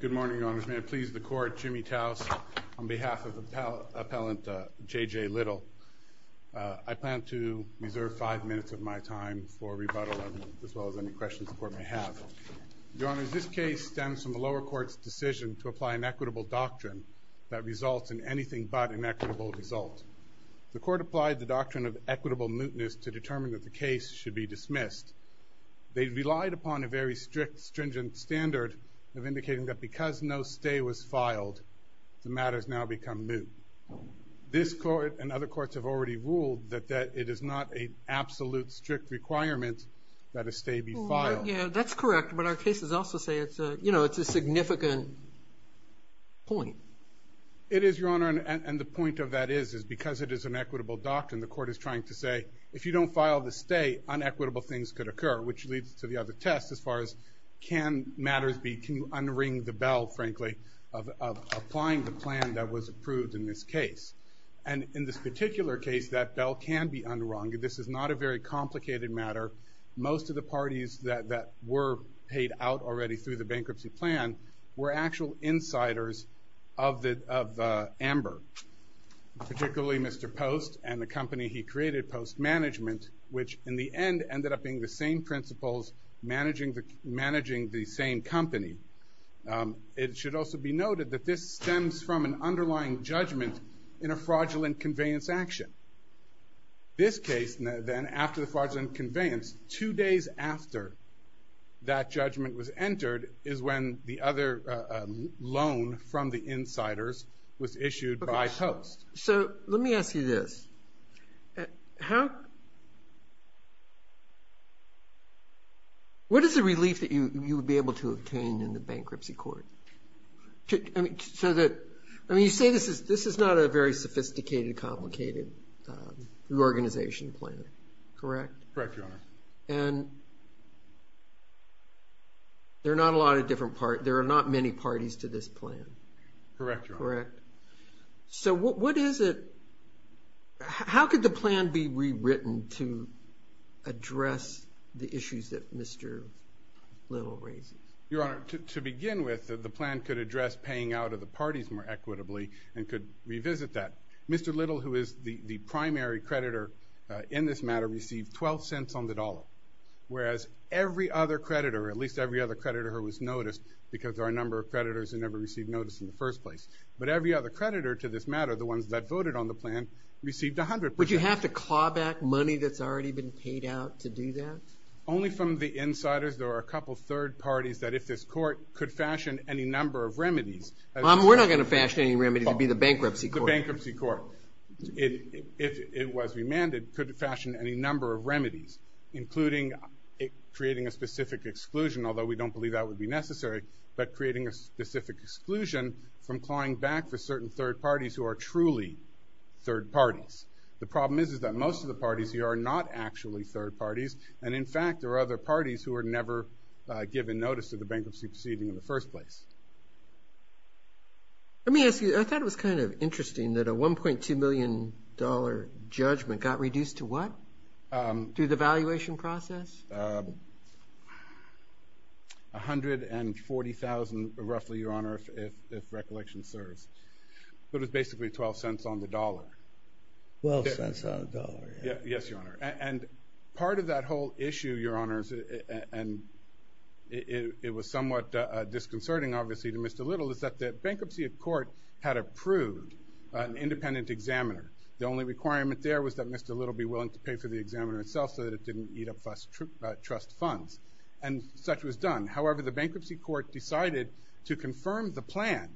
Good morning, Your Honors. May I please the Court, Jimmy Taus, on behalf of Appellant J.J. Little. I plan to reserve five minutes of my time for rebuttal, as well as any questions the Court may have. Your Honors, this case stems from the lower court's decision to apply an equitable doctrine that results in anything but an equitable result. The Court applied the doctrine of equitable mootness to determine that the case should be dismissed. They relied upon a very strict, stringent standard of indicating that because no stay was filed, the matter has now become moot. This Court and other courts have already ruled that it is not an absolute, strict requirement that a stay be filed. That's correct, but our cases also say it's a significant point. It is, Your Honor, and the point of that is because it is an equitable doctrine, the Court is trying to say, if you don't file the stay, unequitable things could occur, which leads to the other test as far as can matters be, can you unring the bell, frankly, of applying the plan that was approved in this case. And in this particular case, that bell can be unrung. This is not a very complicated matter. Most of the parties that were paid out already through the bankruptcy plan were actual insiders of Amber, particularly Mr. Post and the company he created, Post Management, which in the end ended up being the same principals managing the same company. It should also be noted that this stems from an underlying judgment in a fraudulent conveyance action. This case, then, after the fraudulent conveyance, two days after that judgment was entered, is when the other loan from the insiders was issued by Post. So let me ask you this. What is the relief that you would be able to obtain in the bankruptcy court? You say this is not a very sophisticated, complicated reorganization plan, correct? Correct, Your Honor. And there are not many parties to this plan. Correct, Your Honor. Correct. So what is it? How could the plan be rewritten to address the issues that Mr. Little raises? Your Honor, to begin with, the plan could address paying out of the parties more equitably and could revisit that. Mr. Little, who is the primary creditor in this matter, received $0.12 on the dollar, whereas every other creditor, at least every other creditor who was noticed, because there are a number of creditors who never received notice in the first place, but every other creditor to this matter, the ones that voted on the plan, received 100%. Would you have to claw back money that's already been paid out to do that? Only from the insiders. There are a couple third parties that if this court could fashion any number of remedies. We're not going to fashion any remedies. It would be the bankruptcy court. The bankruptcy court. If it was remanded, it could fashion any number of remedies, including creating a specific exclusion, although we don't believe that would be necessary, but creating a specific exclusion from clawing back for certain third parties who are truly third parties. The problem is that most of the parties here are not actually third parties, and, in fact, there are other parties who were never given notice of the bankruptcy proceeding in the first place. Let me ask you, I thought it was kind of interesting that a $1.2 million judgment got reduced to what? Through the valuation process? $140,000 roughly, Your Honor, if recollection serves. But it was basically $0.12 on the dollar. $0.12 on the dollar. Yes, Your Honor. And part of that whole issue, Your Honors, and it was somewhat disconcerting, obviously, to Mr. Little, is that the bankruptcy court had approved an independent examiner. The only requirement there was that Mr. Little be willing to pay for the examiner itself so that it didn't eat up trust funds. And such was done. However, the bankruptcy court decided to confirm the plan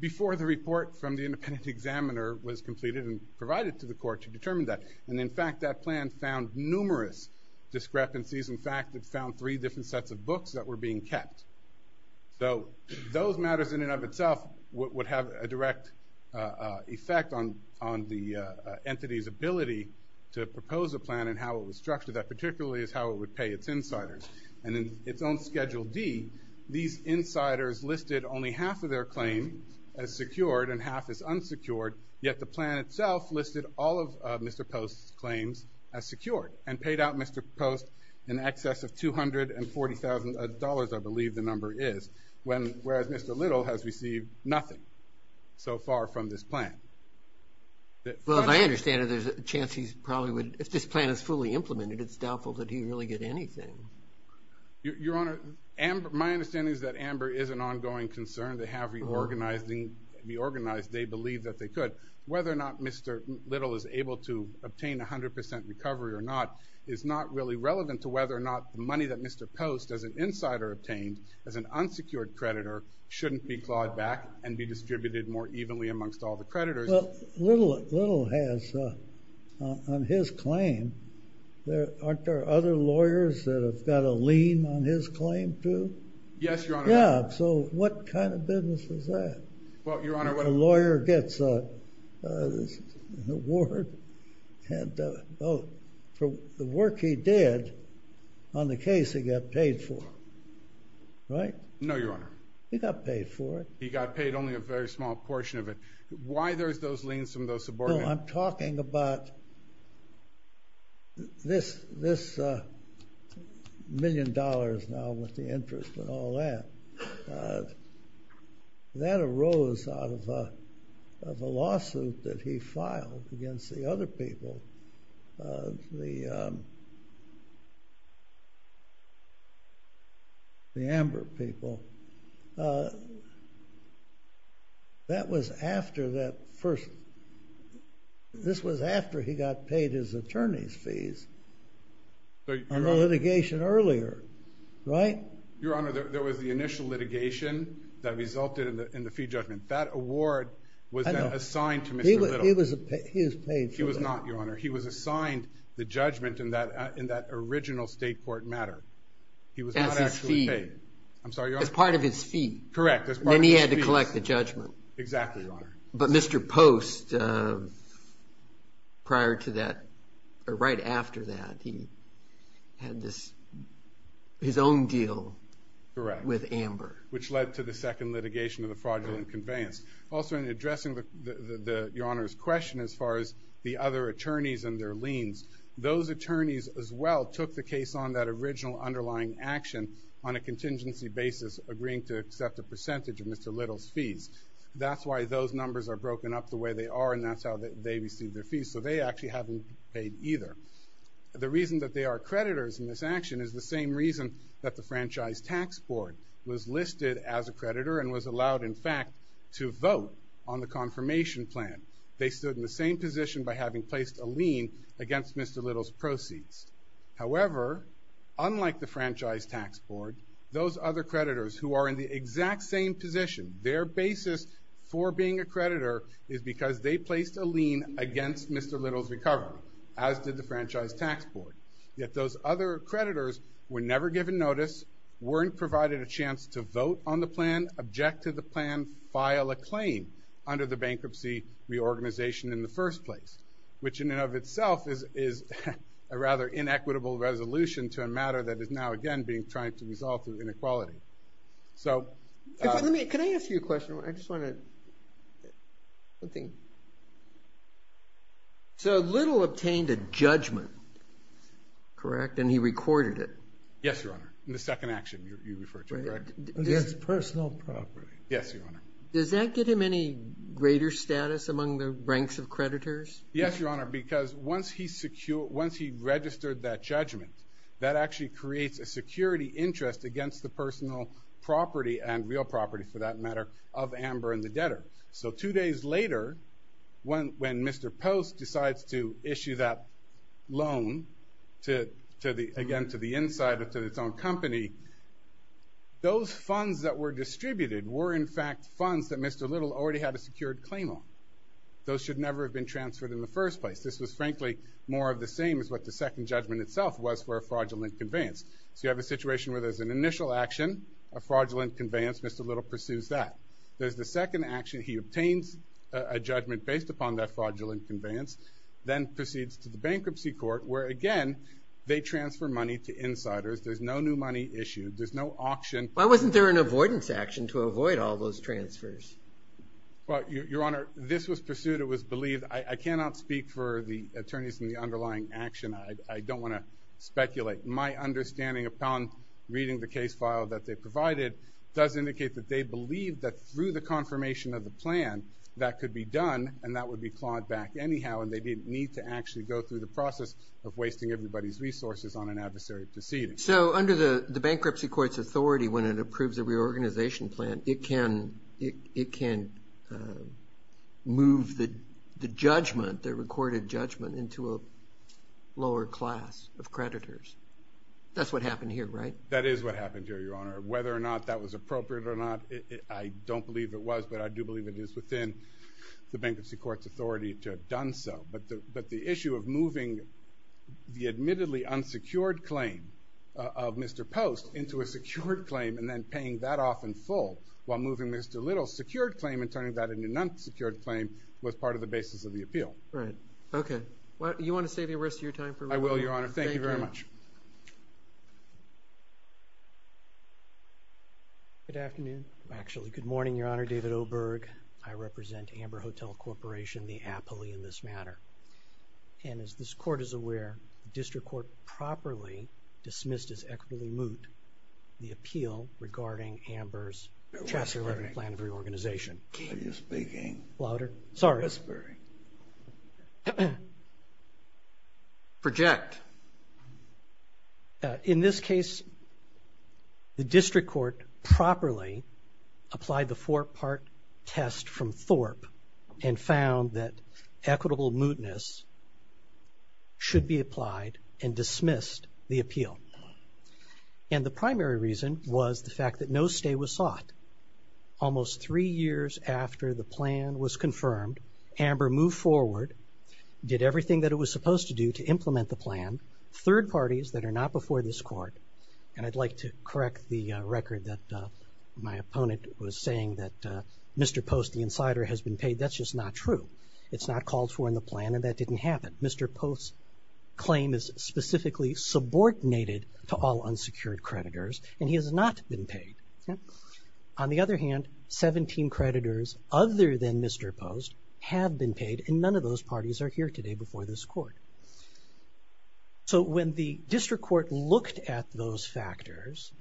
before the report from the independent examiner was completed and provided to the court to determine that. And, in fact, that plan found numerous discrepancies. In fact, it found three different sets of books that were being kept. So those matters in and of itself would have a direct effect on the entity's ability to propose a plan and how it was structured. That particularly is how it would pay its insiders. And in its own Schedule D, these insiders listed only half of their claim as secured and half as unsecured, yet the plan itself listed all of Mr. Post's claims as secured and paid out Mr. Post in excess of $240,000, I believe the number is, whereas Mr. Little has received nothing so far from this plan. Well, as I understand it, there's a chance he probably would – if this plan is fully implemented, it's doubtful that he'd really get anything. Your Honor, my understanding is that Amber is an ongoing concern. They have reorganized. They believe that they could. Whether or not Mr. Little is able to obtain 100% recovery or not is not really relevant to whether or not the money that Mr. Post, as an insider obtained, as an unsecured creditor, shouldn't be clawed back and be distributed more evenly amongst all the creditors. Well, Little has, on his claim, aren't there other lawyers that have got a lien on his claim, too? Yes, Your Honor. Yeah, so what kind of business is that? Well, Your Honor. A lawyer gets an award for the work he did on the case he got paid for, right? No, Your Honor. He got paid for it. He got paid only a very small portion of it. Why there's those liens from those subordinates? Well, I'm talking about this million dollars now with the interest and all that. That arose out of a lawsuit that he filed against the other people, the Amber people. That was after he got paid his attorney's fees on the litigation earlier, right? Your Honor, there was the initial litigation that resulted in the fee judgment. That award was then assigned to Mr. Little. He was paid for that. He was not, Your Honor. He was assigned the judgment in that original state court matter. He was not actually paid. I'm sorry, Your Honor. As part of his fee. Correct. Then he had to collect the judgment. Exactly, Your Honor. But Mr. Post, right after that, he had his own deal with Amber. Correct, which led to the second litigation of the fraudulent conveyance. Also, in addressing Your Honor's question as far as the other attorneys and their liens, those attorneys as well took the case on that original underlying action on a contingency basis, agreeing to accept a percentage of Mr. Little's fees. That's why those numbers are broken up the way they are, and that's how they received their fees. So they actually haven't been paid either. The reason that they are creditors in this action is the same reason that the Franchise Tax Board was listed as a creditor and was allowed, in fact, to vote on the confirmation plan. They stood in the same position by having placed a lien against Mr. Little's proceeds. However, unlike the Franchise Tax Board, those other creditors who are in the exact same position, their basis for being a creditor is because they placed a lien against Mr. Little's recovery, as did the Franchise Tax Board. Yet those other creditors were never given notice, weren't provided a chance to vote on the plan, object to the plan, file a claim under the bankruptcy reorganization in the first place, which in and of itself is a rather inequitable resolution to a matter that is now, again, being tried to resolve through inequality. Can I ask you a question? So Little obtained a judgment, correct, and he recorded it. Yes, Your Honor, in the second action you referred to, correct? Against personal property. Yes, Your Honor. Does that give him any greater status among the ranks of creditors? Yes, Your Honor, because once he registered that judgment, that actually creates a security interest against the personal property and real property, for that matter, of Amber and the debtor. So two days later, when Mr. Post decides to issue that loan, again, to the insider, to its own company, those funds that were distributed were, in fact, funds that Mr. Little already had a secured claim on. Those should never have been transferred in the first place. This was, frankly, more of the same as what the second judgment itself was for a fraudulent conveyance. So you have a situation where there's an initial action, a fraudulent conveyance, Mr. Little pursues that. There's the second action, he obtains a judgment based upon that fraudulent conveyance, then proceeds to the bankruptcy court where, again, they transfer money to insiders. There's no new money issued. There's no auction. Why wasn't there an avoidance action to avoid all those transfers? Well, Your Honor, this was pursued. It was believed. I cannot speak for the attorneys in the underlying action. I don't want to speculate. My understanding, upon reading the case file that they provided, does indicate that they believed that through the confirmation of the plan, that could be done and that would be clawed back anyhow, and they didn't need to actually go through the process of wasting everybody's resources on an adversary proceeding. So under the bankruptcy court's authority, when it approves a reorganization plan, it can move the judgment, the recorded judgment, into a lower class of creditors. That's what happened here, right? That is what happened here, Your Honor. Whether or not that was appropriate or not, I don't believe it was, but I do believe it is within the bankruptcy court's authority to have done so. But the issue of moving the admittedly unsecured claim of Mr. Post into a secured claim and then paying that off in full while moving Mr. Little's secured claim and turning that into an unsecured claim was part of the basis of the appeal. Right. Okay. You want to save the rest of your time for me? I will, Your Honor. Thank you very much. Thank you. Good afternoon. Actually, good morning, Your Honor. David Oberg. I represent Amber Hotel Corporation, the appellee in this matter. And as this court is aware, the district court properly dismissed as equitably moot the appeal regarding Amber's Chapter 11 plan of reorganization. Are you speaking? Louder. Sorry. Project. In this case, the district court properly applied the four-part test from THORP and found that equitable mootness should be applied and dismissed the appeal. And the primary reason was the fact that no stay was sought. Almost three years after the plan was confirmed, Amber moved forward, did everything that it was supposed to do to implement the plan. Third parties that are not before this court, and I'd like to correct the record that my opponent was saying that Mr. Post, the insider, has been paid. That's just not true. It's not called for in the plan and that didn't happen. Mr. Post's claim is specifically subordinated to all unsecured creditors and he has not been paid. On the other hand, 17 creditors other than Mr. Post have been paid and none of those parties are here today before this court. So when the district court looked at those factors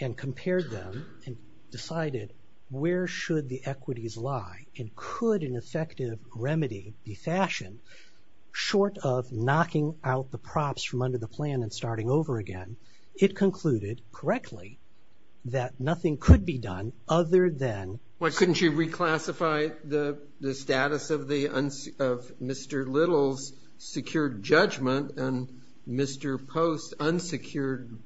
and compared them and decided where should the equities lie and could an effective remedy be fashioned, short of knocking out the props from under the plan and starting over again, it concluded correctly that nothing could be done other than. Why couldn't you reclassify the status of Mr. Little's secured judgment and Mr. Post's unsecured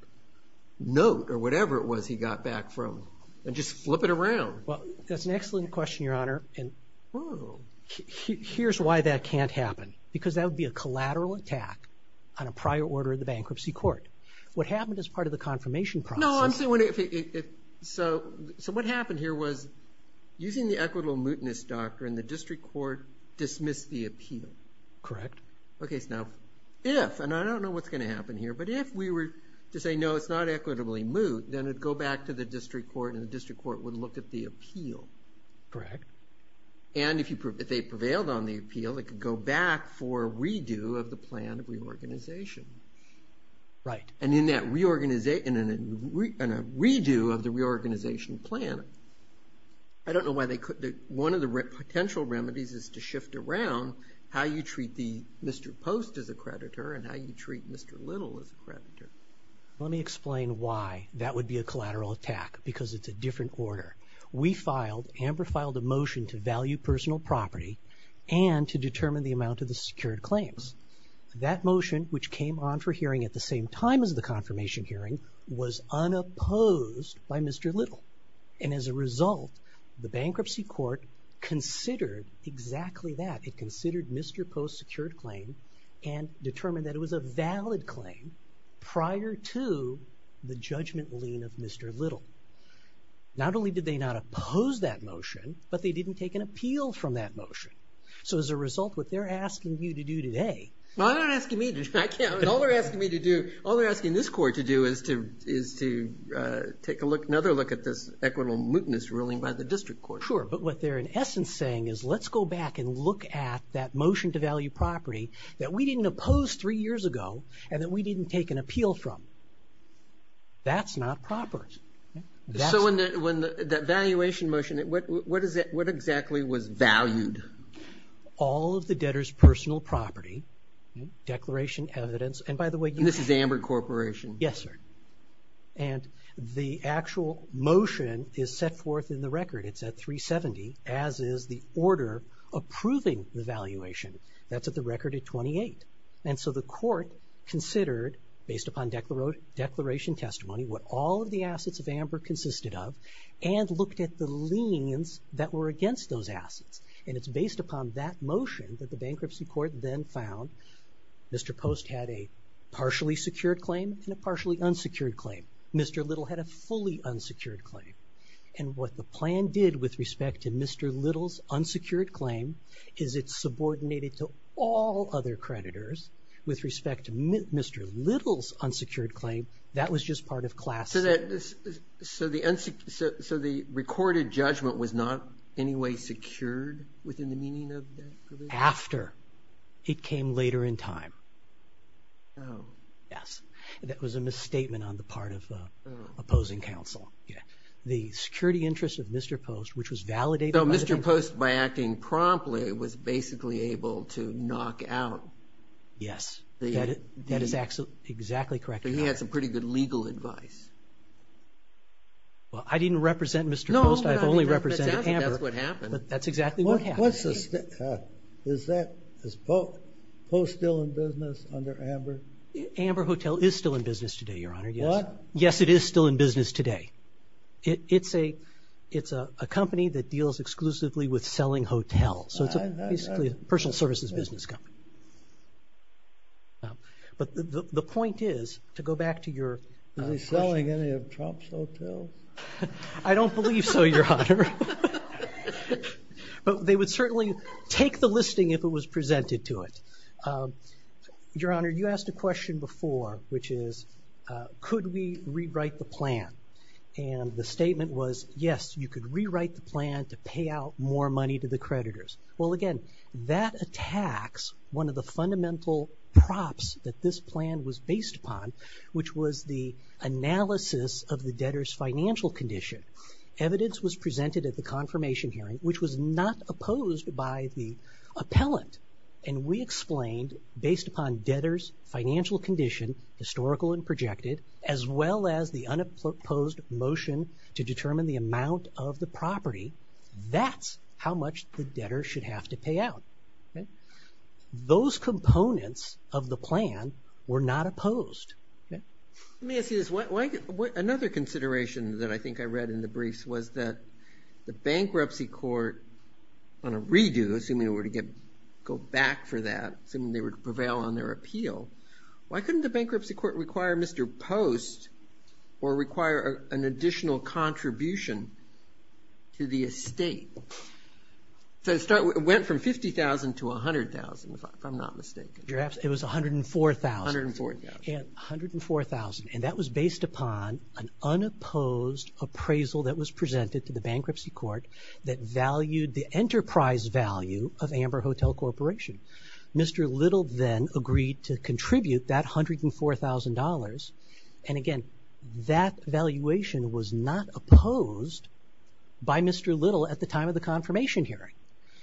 note or whatever it was he got back from and just flip it around? That's an excellent question, Your Honor, and here's why that can't happen because that would be a collateral attack on a prior order of the bankruptcy court. What happened as part of the confirmation process. So what happened here was using the equitable mootness doctrine, the district court dismissed the appeal. Correct. Okay, so now if, and I don't know what's going to happen here, but if we were to say, no, it's not equitably moot, then it would go back to the district court and the district court would look at the appeal. Correct. And if they prevailed on the appeal, it could go back for a redo of the plan of reorganization. Right. And in that redo of the reorganization plan, I don't know why they couldn't, one of the potential remedies is to shift around how you treat Mr. Post as a creditor and how you treat Mr. Little as a creditor. Let me explain why that would be a collateral attack because it's a different order. We filed, Amber filed a motion to value personal property and to determine the amount of the secured claims. That motion, which came on for hearing at the same time as the confirmation hearing, was unopposed by Mr. Little. And as a result, the bankruptcy court considered exactly that. It considered Mr. Post's secured claim and determined that it was a valid claim prior to the judgment lien of Mr. Little. Not only did they not oppose that motion, but they didn't take an appeal from that motion. So as a result, what they're asking you to do today... All they're asking me to do, all they're asking this court to do is to take another look at this equitable mootness ruling by the district court. Sure, but what they're in essence saying is let's go back and look at that motion to value property that we didn't oppose three years ago and that we didn't take an appeal from. That's not proper. So when that valuation motion, what exactly was valued? All of the debtor's personal property, declaration, evidence, and by the way... And this is Amber Corporation? Yes, sir. And the actual motion is set forth in the record. It's at 370, as is the order approving the valuation. That's at the record at 28. And so the court considered, based upon declaration testimony, what all of the assets of Amber consisted of and looked at the liens that were against those assets. And it's based upon that motion that the bankruptcy court then found. Mr. Post had a partially secured claim and a partially unsecured claim. Mr. Little had a fully unsecured claim. And what the plan did with respect to Mr. Little's unsecured claim is it subordinated to all other creditors with respect to Mr. Little's unsecured claim. That was just part of class... So the recorded judgment was not in any way secured within the meaning of that provision? After. It came later in time. Oh. Yes. That was a misstatement on the part of opposing counsel. The security interest of Mr. Post, which was validated... So Mr. Post, by acting promptly, was basically able to knock out... Yes. That is exactly correct. He had some pretty good legal advice. Well, I didn't represent Mr. Post. I've only represented Amber. That's exactly what happened. Is Post still in business under Amber? Amber Hotel is still in business today, Your Honor, yes. What? Yes, it is still in business today. It's a company that deals exclusively with selling hotels. So it's basically a personal services business company. But the point is, to go back to your... Is he selling any of Trump's hotels? I don't believe so, Your Honor. But they would certainly take the listing if it was presented to it. Your Honor, you asked a question before, which is, could we rewrite the plan? And the statement was, yes, you could rewrite the plan to pay out more money to the creditors. Well, again, that attacks one of the fundamental props that this plan was based upon, which was the analysis of the debtor's financial condition. Evidence was presented at the confirmation hearing, which was not opposed by the appellant. And we explained, based upon debtor's financial condition, historical and projected, as well as the unopposed motion to determine the amount of the property, that's how much the debtor should have to pay out. Those components of the plan were not opposed. Let me ask you this. Another consideration that I think I read in the briefs was that the bankruptcy court, on a redo, assuming they were to go back for that, assuming they would prevail on their appeal, why couldn't the bankruptcy court require Mr. Post or require an additional contribution to the estate? So it went from $50,000 to $100,000, if I'm not mistaken. It was $104,000. $104,000. $104,000. And that was based upon an unopposed appraisal that was presented to the bankruptcy court that valued the enterprise value of Amber Hotel Corporation. Mr. Little then agreed to contribute that $104,000 and, again, that valuation was not opposed by Mr. Little at the time of the confirmation hearing.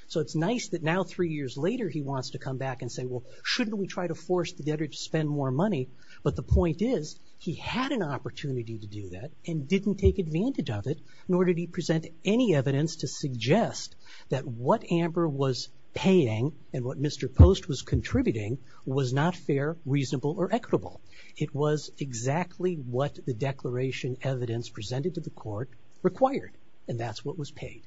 So it's nice that now, three years later, he wants to come back and say, well, shouldn't we try to force the debtor to spend more money? But the point is, he had an opportunity to do that and didn't take advantage of it, nor did he present any evidence to suggest that what Amber was paying and what Mr. Post was contributing was not fair, reasonable, or equitable. It was exactly what the declaration evidence presented to the court required, and that's what was paid.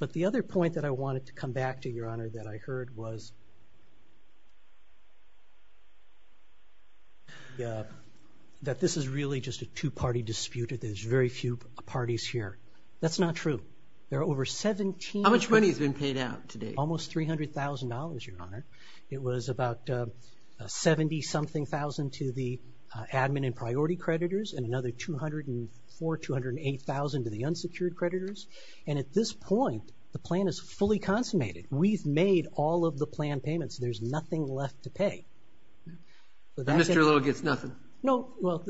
But the other point that I wanted to come back to, Your Honor, that I heard was that this is really just a two-party dispute and there's very few parties here. That's not true. There are over 17... How much money has been paid out to date? Almost $300,000, Your Honor. It was about $70-something thousand to the admin and priority creditors and another $204,000, $208,000 to the unsecured creditors. And at this point, the plan is fully consummated. We've made all of the plan payments. There's nothing left to pay. And Mr. Little gets nothing? No. Well,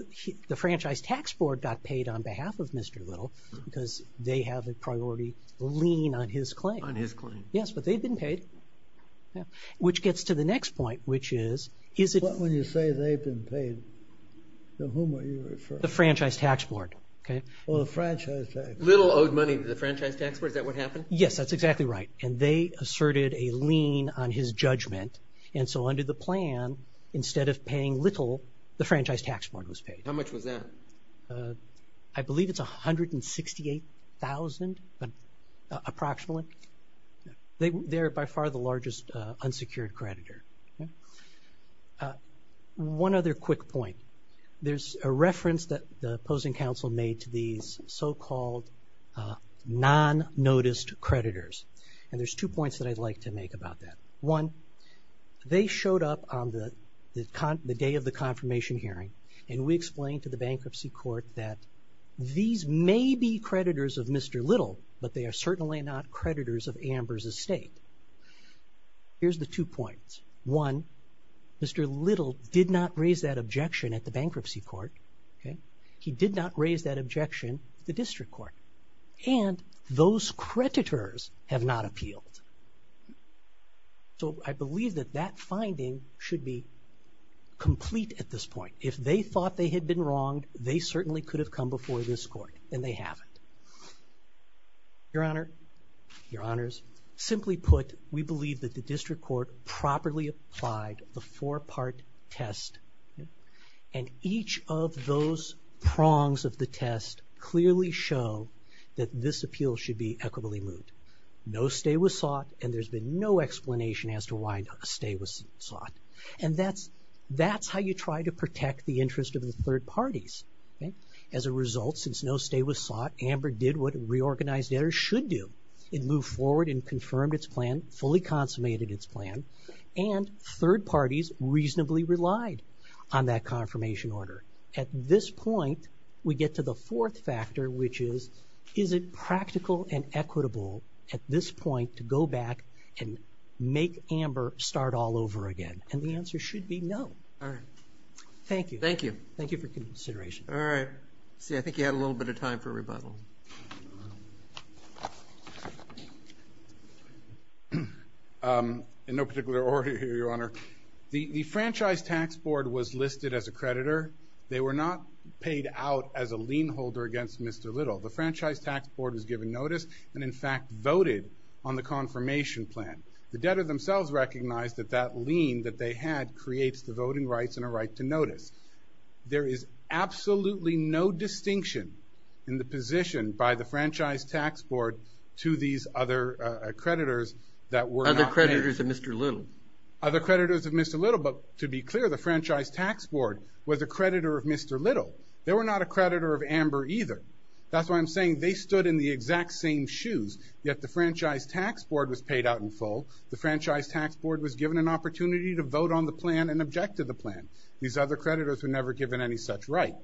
the Franchise Tax Board got paid on behalf of Mr. Little because they have a priority lien on his claim. On his claim. Yes, but they've been paid. Which gets to the next point, which is... What when you say they've been paid? To whom are you referring? The Franchise Tax Board. Oh, the Franchise Tax Board. Little owed money to the Franchise Tax Board? Is that what happened? Yes, that's exactly right. And they asserted a lien on his judgment. And so under the plan, instead of paying Little, the Franchise Tax Board was paid. How much was that? I believe it's $168,000 approximately. They're by far the largest unsecured creditor. One other quick point. There's a reference that the opposing counsel made to these so-called non-noticed creditors. And there's two points that I'd like to make about that. One, they showed up on the day of the confirmation hearing, and we explained to the bankruptcy court that these may be creditors of Mr. Little, but they are certainly not creditors of Amber's estate. Here's the two points. One, Mr. Little did not raise that objection at the bankruptcy court. He did not raise that objection at the district court. And those creditors have not appealed. So I believe that that finding should be complete at this point. If they thought they had been wronged, they certainly could have come before this court, and they haven't. Your Honor, Your Honors, simply put, we believe that the district court properly applied the four-part test, and each of those prongs of the test clearly show that this appeal should be equitably moved. No stay was sought, and there's been no explanation as to why a stay was sought. And that's how you try to protect the interest of the third parties. As a result, since no stay was sought, Amber did what a reorganized editor should do. It moved forward and confirmed its plan, fully consummated its plan, and third parties reasonably relied on that confirmation order. At this point, we get to the fourth factor, which is, is it practical and equitable at this point to go back and make Amber start all over again? And the answer should be no. All right. Thank you. Thank you. Thank you for your consideration. All right. See, I think you had a little bit of time for rebuttal. In no particular order here, Your Honor, the Franchise Tax Board was listed as a creditor. They were not paid out as a lien holder against Mr. Little. The Franchise Tax Board was given notice and, in fact, voted on the confirmation plan. The debtor themselves recognized that that lien that they had creates the voting rights and a right to notice. There is absolutely no distinction in the position by the Franchise Tax Board to these other creditors that were not paid. Other creditors of Mr. Little. Other creditors of Mr. Little, but to be clear, the Franchise Tax Board was a creditor of Mr. Little. They were not a creditor of Amber either. That's why I'm saying they stood in the exact same shoes, yet the Franchise Tax Board was paid out in full. The Franchise Tax Board was given an opportunity to vote on the plan and object to the plan. These other creditors were never given any such right.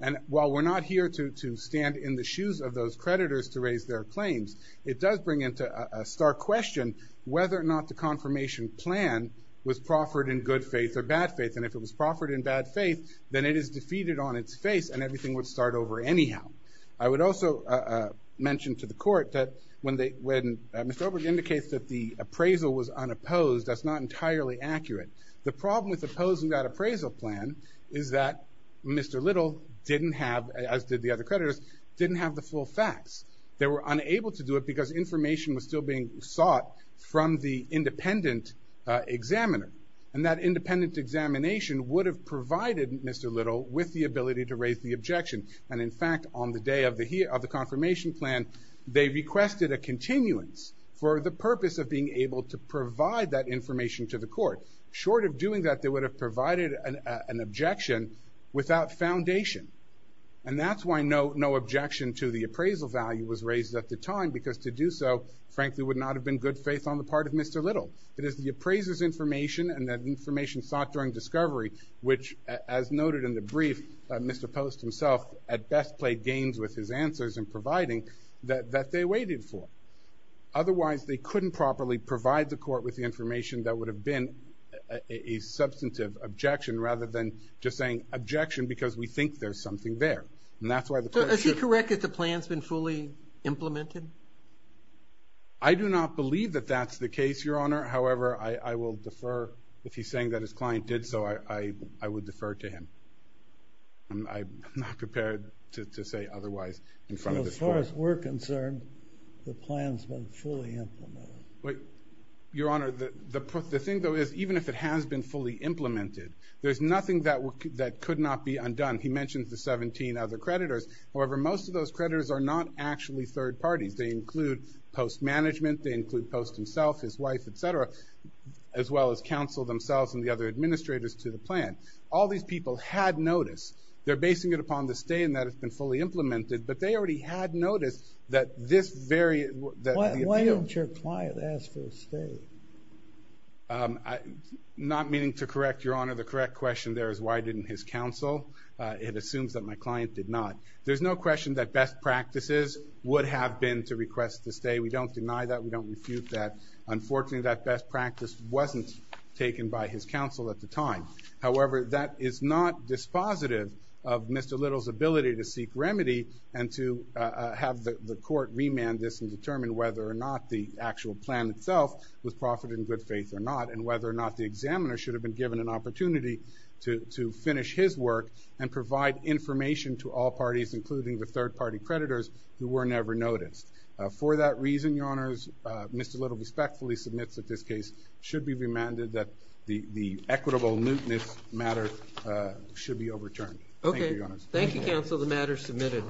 And while we're not here to stand in the shoes of those creditors to raise their claims, it does bring into stark question whether or not the confirmation plan was proffered in good faith or bad faith. And if it was proffered in bad faith, then it is defeated on its face and everything would start over anyhow. I would also mention to the court that when Mr. Oberg indicates that the appraisal was unopposed, that's not entirely accurate. The problem with opposing that appraisal plan is that Mr. Little didn't have, as did the other creditors, didn't have the full facts. They were unable to do it because information was still being sought from the independent examiner. And that independent examination would have provided Mr. Little with the ability to raise the objection. And in fact, on the day of the confirmation plan, they requested a continuance for the purpose of being able to provide that information to the court. Short of doing that, they would have provided an objection without foundation. And that's why no objection to the appraisal value was raised at the time, because to do so, frankly, would not have been good faith on the part of Mr. Little. It is the appraiser's information and that information sought during discovery which, as noted in the brief, Mr. Post himself at best played games with his answers in providing that they waited for. Otherwise, they couldn't properly provide the court with the information that would have been a substantive objection rather than just saying objection because we think there's something there. And that's why the court should – Is he correct that the plan's been fully implemented? I do not believe that that's the case, Your Honor. However, I will defer. If he's saying that his client did so, I would defer to him. I'm not prepared to say otherwise in front of this court. As far as we're concerned, the plan's been fully implemented. Your Honor, the thing, though, is even if it has been fully implemented, there's nothing that could not be undone. He mentioned the 17 other creditors. However, most of those creditors are not actually third parties. They include Post Management. They include Post himself, his wife, et cetera, as well as counsel themselves and the other administrators to the plan. All these people had notice. They're basing it upon the stay and that it's been fully implemented, but they already had notice that this very – Why didn't your client ask for a stay? Not meaning to correct, Your Honor, the correct question there is why didn't his counsel? It assumes that my client did not. There's no question that best practices would have been to request the stay. We don't deny that. We don't refute that. Unfortunately, that best practice wasn't taken by his counsel at the time. However, that is not dispositive of Mr. Little's ability to seek remedy and to have the court remand this and determine whether or not the actual plan itself was profited in good faith or not and whether or not the examiner should have been given an opportunity to finish his work and provide information to all parties, including the third-party creditors who were never noticed. For that reason, Your Honors, Mr. Little respectfully submits that this case should be remanded that the equitable mootness matter should be overturned. Thank you, Your Honors. Thank you, counsel. The matter is submitted.